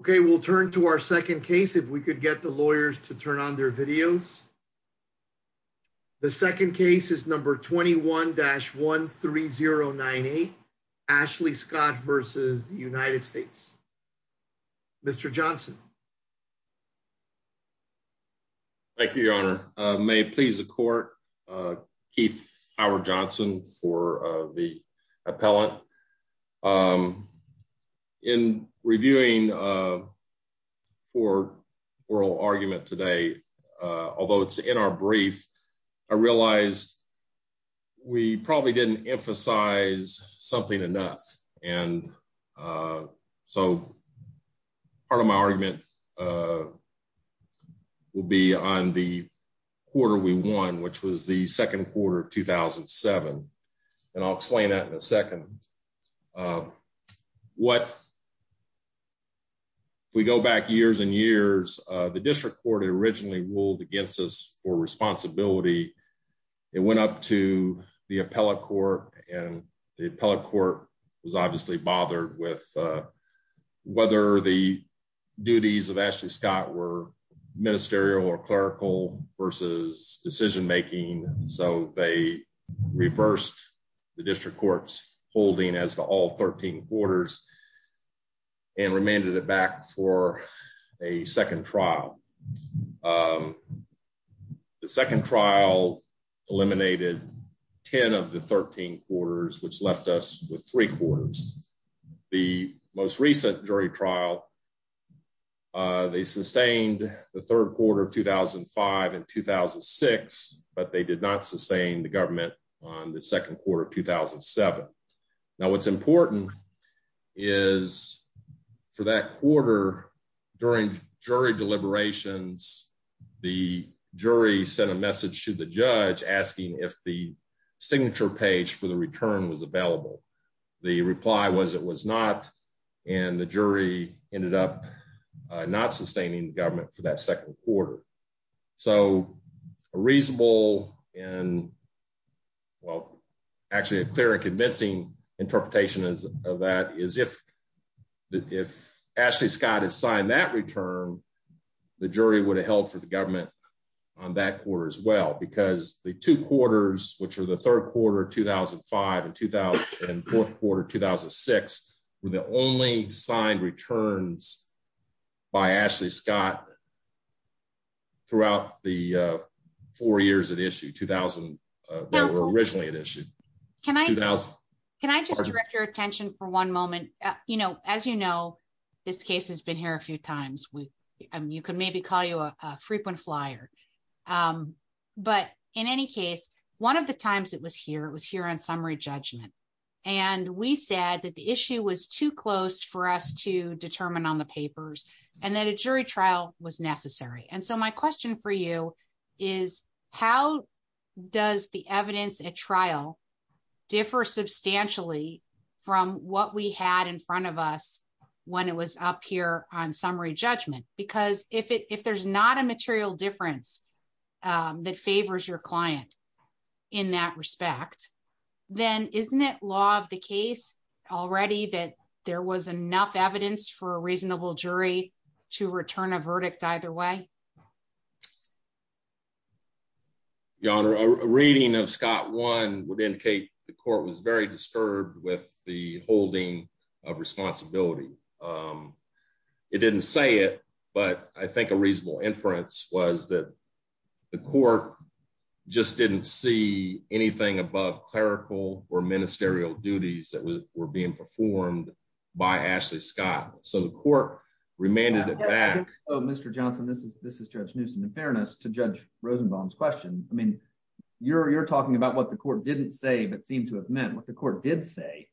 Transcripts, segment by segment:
Okay, we'll turn to our second case. If we could get the lawyers to turn on their videos. The second case is number 21-13098. Ashley Scott versus the United States. Mr. Johnson. Thank you, Your Honor. May it please the court. Keith Howard Johnson for the appellant. In reviewing for oral argument today, although it's in our brief, I realized we probably didn't emphasize something enough. And so part of my argument will be on the quarter we won, which was the second quarter of 2007. And I'll explain that in a second. What we go back years and years, the district court originally ruled against us for responsibility. It went up to the appellate court and the appellate court was obviously bothered with whether the duties of Ashley Scott were ministerial or clerical versus decision making. So they reversed the district courts holding as the all 13 quarters and remanded it back for a The second trial eliminated 10 of the 13 quarters, which left us with three quarters. The most recent jury trial, they sustained the third quarter of 2005 and 2006. But they did not sustain the government on the second quarter of 2007. Now, what's important is, for that jury sent a message to the judge asking if the signature page for the return was available. The reply was it was not. And the jury ended up not sustaining government for that second quarter. So a reasonable and well, actually a clear and convincing interpretation of that is if that if Ashley Scott has signed that return, the jury would have held for the government on that quarter as well, because the two quarters, which are the third quarter 2005 and 2004, quarter 2006, were the only signed returns by Ashley Scott throughout the four years of the issue 2000. We're originally an issue. Can I can I just direct your attention for one moment? You know, as you know, this case has been here a few times with you can maybe call you a frequent flyer. But in any case, one of the times it was here, it was here on summary judgment. And we said that the issue was too close for us to determine on the papers, and that a jury trial was necessary. And so my question for you is, how does the evidence at trial differ substantially from what we had in front of us when it was up here on summary judgment? Because if it if there's not a material difference, that favors your client, in that respect, then isn't it law of the case already that there was enough evidence for a reasonable jury to return a verdict either way? Your Honor, a reading of Scott one would indicate the court was very disturbed with the holding of responsibility. It didn't say it. But I think a reasonable inference was that the court just didn't see anything above clerical or ministerial duties that were being performed by Ashley Scott. So the court remanded it back. Oh, Mr. Johnson, this is this is Judge Newsome. In fairness to Judge Rosenbaum's question, I mean, you're talking about what the court didn't say, but seem to have meant what the court did say,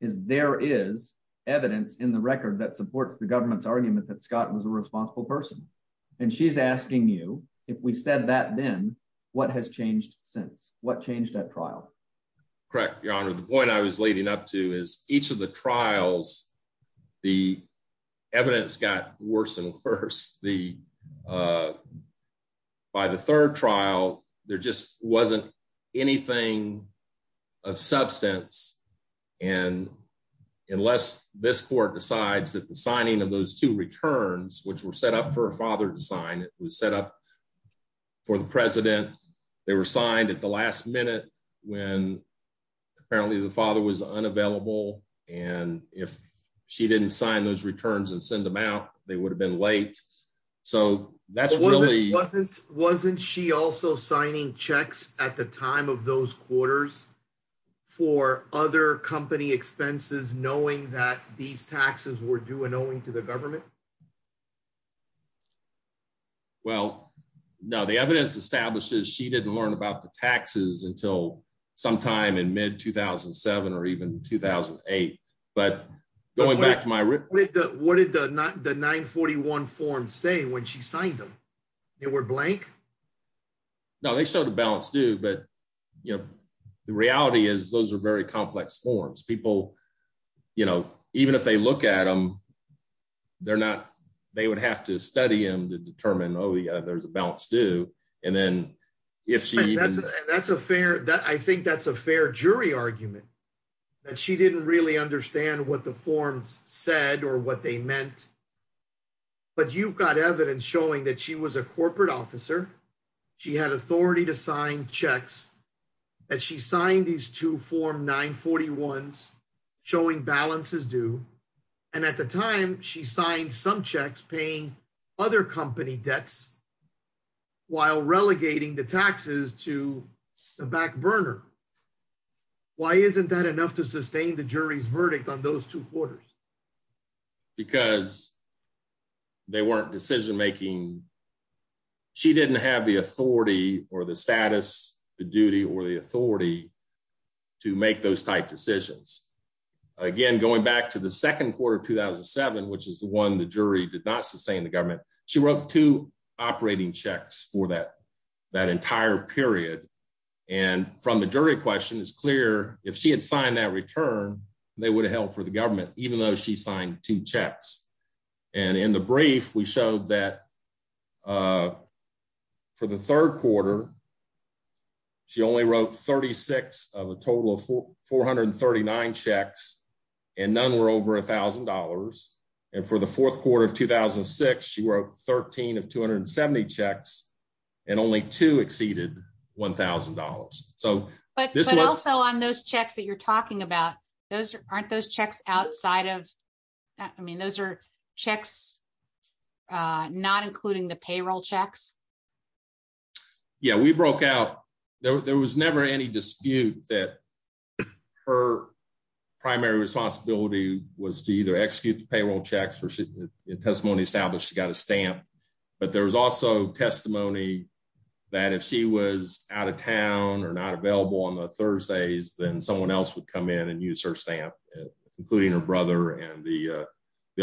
is there is evidence in the record that supports the government's argument that Scott was a responsible person. And she's asking you, if we said that, then what has changed since what changed that trial? Correct, Your Honor, the point I was leading up to is each of the trials, the evidence got worse and worse. By the third trial, there just wasn't anything of substance. And unless this court decides that the signing of those two returns, which were set up for a father to sign, it was set up for the president, they were signed at the last minute, when apparently the father was unavailable. And if she didn't sign those returns and send them out, they would have been late. So that's wasn't she also signing checks at the time of those quarters for other company expenses, knowing that these taxes were due and owing to the government? Well, no, the evidence establishes she didn't learn about the taxes until sometime in mid 2007, or even 2008. But going back to my room, what did the not the 941 form say when she signed them? They were blank? No, they showed a balanced due. But, you know, the reality is those are very complex forms people, you know, even if they look at them, they're not, they would have to study them to determine, oh, yeah, there's a balanced due. And then, if she that's a fair that I think that's a fair jury argument, that she didn't really understand what the forms said or what they meant. But you've got evidence showing that she was a corporate officer, she had authority to sign checks, that she signed these two form 940 ones, showing balances due. And at the time, she signed some checks paying other company debts, while relegating the taxes to the back burner. Why isn't that enough to sustain the jury's verdict on those two quarters? Because they weren't decision making. She didn't have the authority or the status, the duty or the authority to make those type decisions. Again, going back to the second quarter 2007, which is the one the jury did not sustain the government, she wrote two operating checks for that, that entire period. And from the jury question is clear, if she had signed that return, they would have held for the government, even though she signed two checks. And in the brief, we showed that for the third quarter, she only wrote 36 of a total of 439 checks, and none were over $1,000. And for the fourth quarter of 2006, she wrote 13 of 270 checks, and only two exceeded $1,000. So, but also on those checks that you're talking about, those aren't those checks outside of that. I mean, those are checks, not including the payroll checks. Yeah, we broke out, there was never any dispute that her primary responsibility was to either execute the payroll checks or testimony established she got a stamp. But there was also testimony that if she was out of town or not available on the Thursdays, then someone else would come in and use her stamp, including her brother and the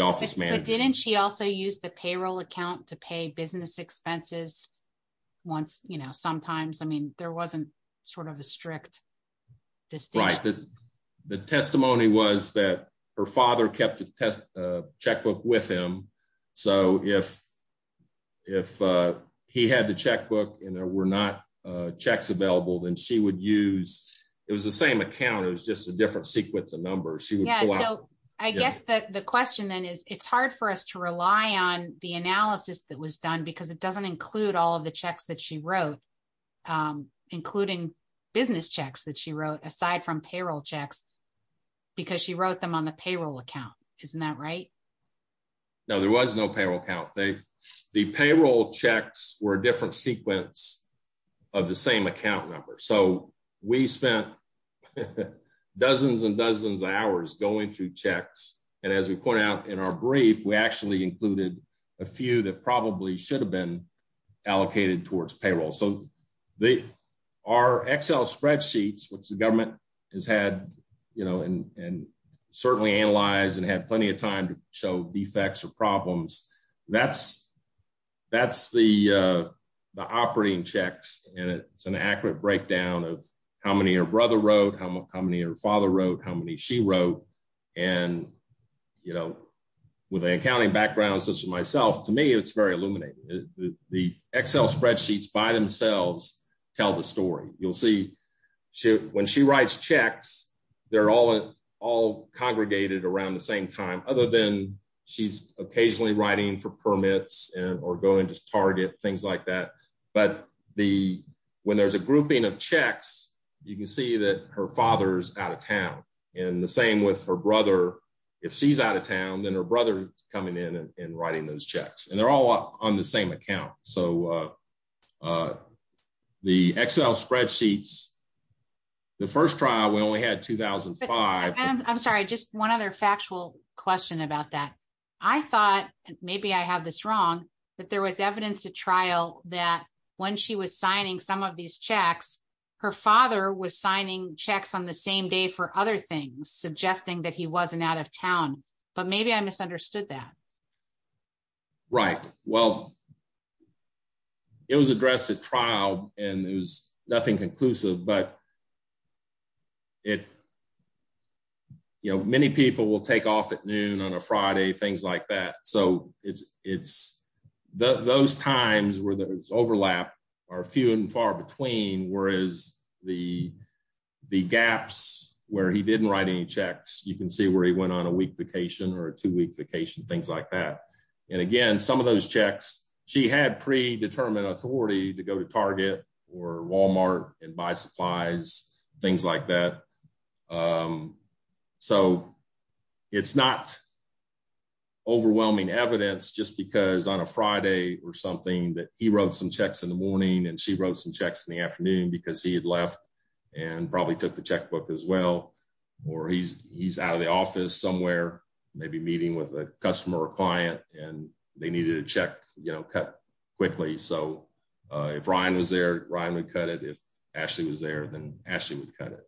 office manager. Didn't she also use the payroll account to pay business expenses? Once, you know, sometimes, I mean, there wasn't sort of a strict distinction. The testimony was that her father kept the checkbook with him. So if, if he had the checkbook, and there were not checks available, then she would use, it was the same account, it was just a different sequence of numbers. Yeah, so I guess the question then is, it's hard for us to rely on the analysis that was done, because it doesn't include all of the checks that she wrote, including business checks that she wrote aside from payroll checks, because she wrote them on the payroll account. Isn't that right? No, there was no payroll count. They, the payroll checks were a different sequence of the same account number. So we spent dozens and dozens of hours going through checks. And as we pointed out in our brief, we actually included a few that probably should have been allocated towards payroll. So the, our Excel spreadsheets, which the government has had, you know, and certainly analyzed and had plenty of time to show defects or problems. That's, that's the, the operating checks. And it's an accurate breakdown of how many her brother wrote, how many her father wrote, how many she wrote. And, you know, with an accounting background, such as myself, to me, it's very illuminating. The Excel spreadsheets by themselves, tell the story, you'll see, when she writes checks, they're all, all congregated around the same time, other than she's occasionally writing for permits, or going to Target, things like that. But the, when there's a grouping of checks, you can see that her father's out of town. And the same with her brother. If she's out of town, then her brother coming in and writing those checks, and they're all on the same account. So the Excel spreadsheets, the first trial, we only had 2005. I'm sorry, just one other factual question about that. I thought, maybe I have this wrong, that there was evidence to trial that when she was signing some of these checks, her father was signing checks on the same day for other things, suggesting that he wasn't out of town. But maybe I misunderstood that. Right? Well, it was addressed at trial, and there was nothing conclusive, but it, you know, many people will take off at noon on a Friday, things like that. So it's, it's those times where there's overlap, are few and far between, whereas the, the gaps where he didn't write any checks, you can see where he went on a week vacation or two week vacation, things like that. And again, some of those checks, she had predetermined authority to go to Target or Walmart and buy supplies, things like that. So it's not overwhelming evidence, just because on a Friday or something that he wrote some checks in the morning, and she wrote some checks in the afternoon, because he had left and probably took the checkbook as well. Or he's, he's out of the office somewhere, maybe meeting with a customer or client, and they needed to check, you know, cut quickly. So if Ryan was there, Ryan would cut it. If Ashley was there, then Ashley would cut it.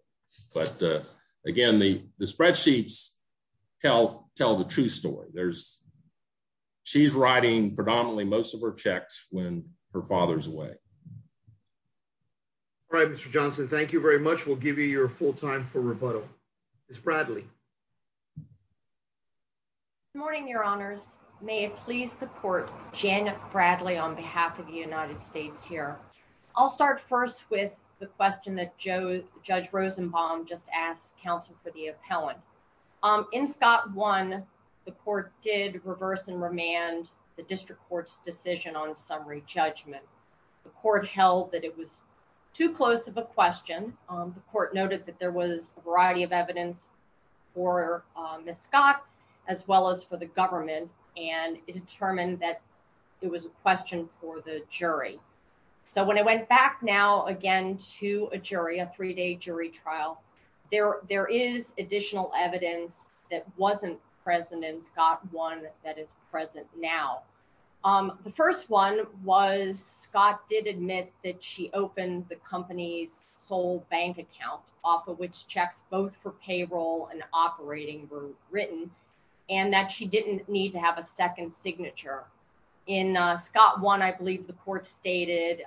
But again, the spreadsheets tell the true story. There's, she's writing predominantly most of her checks when her father's away. All right, Mr. Johnson, thank you very much. We'll give you your full time for rebuttal. Ms. Bradley. Good morning, your honors. May it please the court, Janet Bradley on behalf of the United States here. I'll start first with the question that Joe, Judge Rosenbaum just asked counsel for the appellant. In Scott one, the court did reverse and remand the district court's decision on summary judgment. The court held that it was too close of a question. The court noted that there was a variety of evidence for Ms. Scott, as well as for the government, and it determined that it was a question for the jury. So when I went back now, again, to a jury, a three day jury trial, there, there is additional evidence that wasn't present in Scott one that is present now. The first one was Scott did admit that she opened the company's sole bank account off of which checks, both for payroll and operating were written and that she didn't need to have a second signature in Scott one. I believe the court stated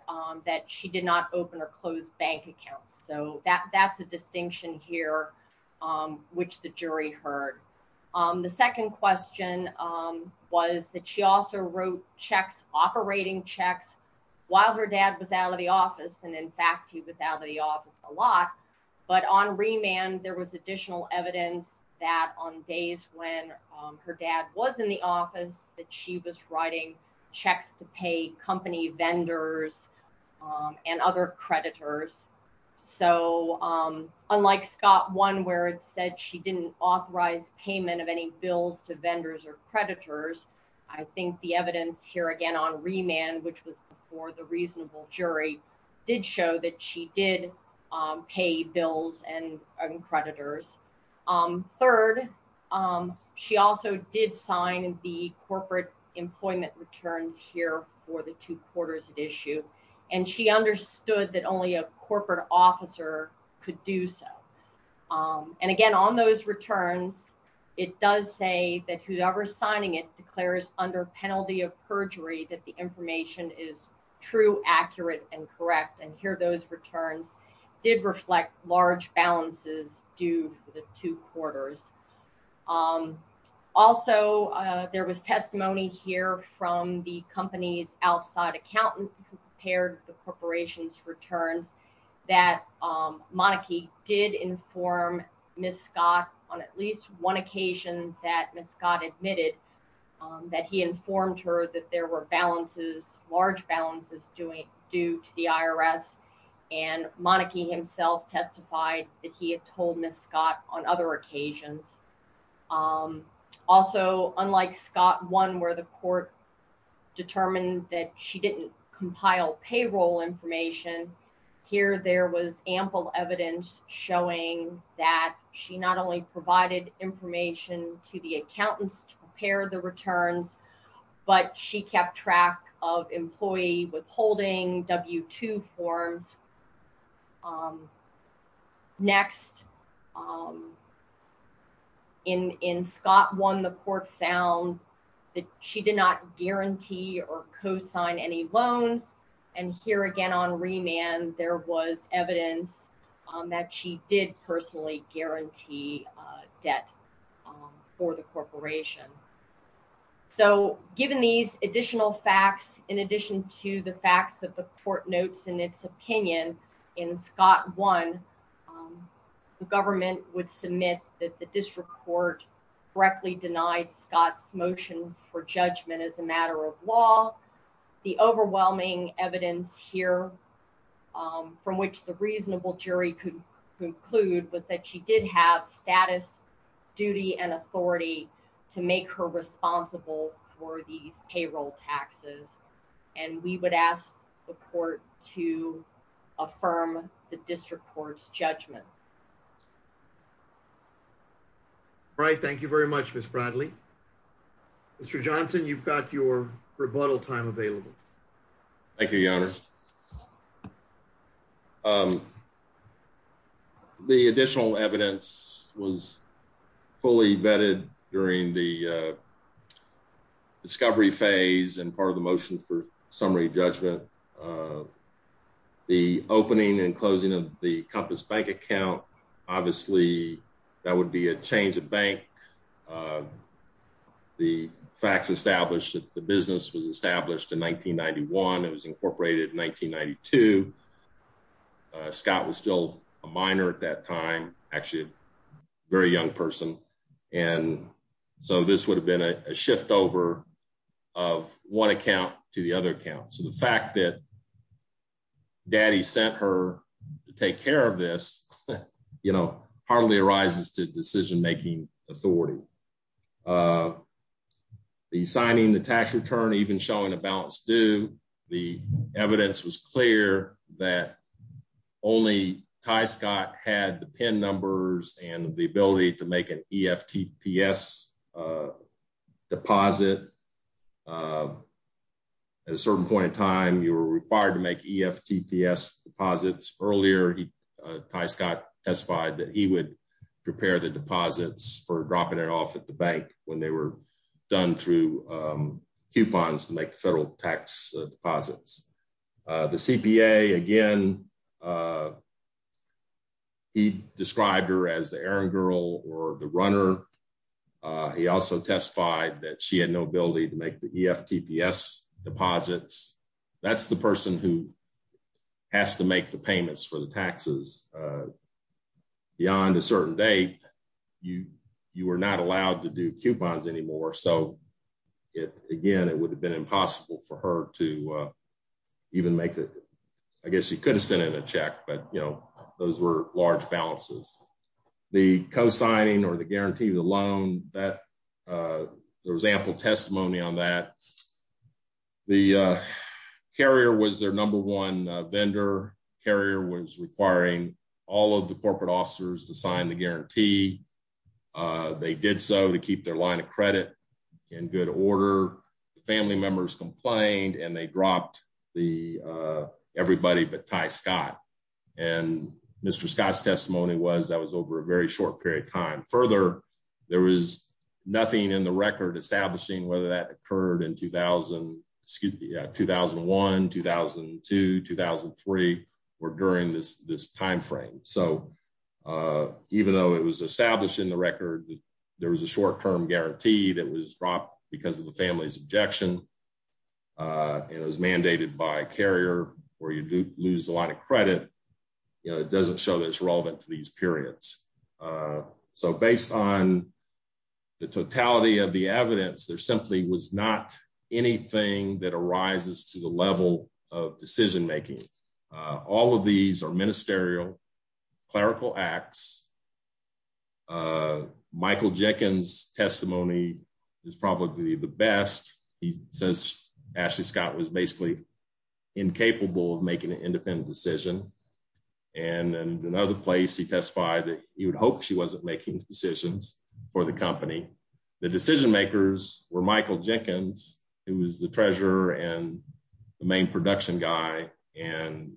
that she did not open or close bank accounts. So that that's a distinction here, which the jury heard. The second question was that she also wrote checks, operating checks while her dad was out of the office. And in fact, he was out of the office a lot, but on remand, there was additional evidence that on days when her dad was in the office, that she was writing checks to pay company vendors and other creditors. So unlike Scott one, where it said she didn't authorize payment of any bills to vendors or creditors, I think the evidence here again on remand, which was for the reasonable jury did show that she did pay bills and creditors. Third she also did sign the corporate employment returns here for the two quarters at issue. And she understood that only a corporate officer could do so. And again, on those returns, it does say that whoever's signing it declares under penalty of perjury, that the information is true, accurate, and correct. And here those returns did reflect large balances due to the two quarters. Also there was testimony here from the company's Ms. Scott on at least one occasion that Ms. Scott admitted that he informed her that there were balances, large balances due to the IRS. And Monike himself testified that he had told Ms. Scott on other occasions. Also, unlike Scott one, where the court determined that she didn't compile payroll information, here there was ample evidence showing that she not only provided information to the accountants to prepare the returns, but she kept track of employee withholding forms. Next, in Scott one, the court found that she did not guarantee or co-sign any loans. And here again on remand, there was evidence that she did personally guarantee debt for the in its opinion in Scott one, the government would submit that the district court directly denied Scott's motion for judgment as a matter of law. The overwhelming evidence here from which the reasonable jury could conclude was that she did have status, duty, and authority to make her to affirm the district court's judgment. All right. Thank you very much, Ms. Bradley. Mr. Johnson, you've got your rebuttal time available. Thank you, Your Honor. The additional evidence was fully vetted during the discovery phase and part of the motion for the opening and closing of the Compass Bank account. Obviously, that would be a change of bank. The facts established that the business was established in 1991. It was incorporated in 1992. Scott was still a minor at that time, actually a very young person. And so this would have been a shift over of one account to the other account. So the fact that daddy sent her to take care of this, you know, hardly arises to decision-making authority. The signing the tax return, even showing a balanced due, the evidence was clear that only Ty Scott had the PIN numbers and the ability to make an EFTPS deposit. At a certain point in time, you were required to make EFTPS deposits. Earlier, Ty Scott testified that he would prepare the deposits for dropping it off at the bank when they were done through coupons to make federal tax deposits. The CPA, again, he described her as the errand girl or the runner. He also testified that she had no ability to make the EFTPS deposits. That's the person who has to make the payments for the taxes. And beyond a certain date, you were not allowed to do coupons anymore. So again, it would have been impossible for her to even make it. I guess she could have sent in a check, but you know, those were large balances. The co-signing or the guarantee, the loan, there was ample testimony on that. The carrier was their number one vendor. Carrier was requiring all of the corporate officers to sign the guarantee. They did so to keep their line of credit in good order. The family members complained and they dropped the everybody but Ty Scott. And Mr. Scott's testimony was that was over a very short period of time. Further, there was nothing in the record establishing whether that occurred in 2000, excuse me, 2001, 2002, 2003, or during this timeframe. So even though it was established in the record, there was a short-term guarantee that was dropped because of the family's objection. It was mandated by carrier where you do lose a lot of credit. It doesn't show that it's relevant to these periods. So based on the totality of the evidence, there simply was not anything that was relevant to the decision-making. All of these are ministerial, clerical acts. Michael Jenkins' testimony is probably the best. He says Ashley Scott was basically incapable of making an independent decision. And in another place, he testified that he would hope she wasn't making decisions for the company. The decision-makers were Michael Jenkins, who was the treasurer and the main production guy, and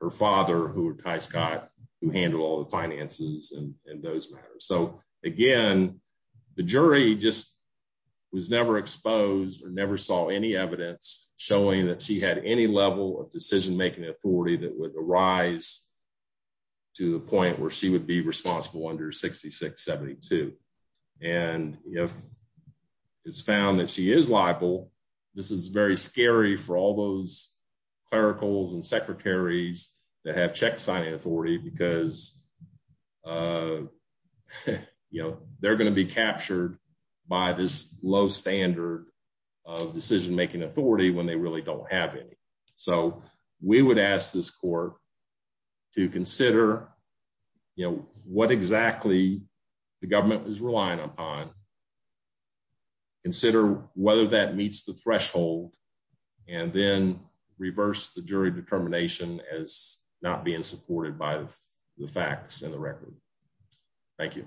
her father, who were Ty Scott, who handled all the finances and those matters. So again, the jury just was never exposed or never saw any evidence showing that she had any level of decision-making authority that would rise to the point where she would be responsible under 6672. And if it's found that she is liable, this is very scary for all those clericals and secretaries that have check-signing authority because they're going to be captured by this low standard of decision-making authority when they really don't have any. So we would ask this court to consider, you know, what exactly the government is relying upon, consider whether that meets the threshold, and then reverse the jury determination as not being supported by the facts and the record. Thank you.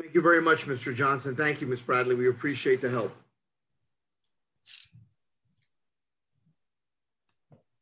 Thank you very much, Mr. Johnson. Thank you, Ms. Bradley. We appreciate the help. Thank you.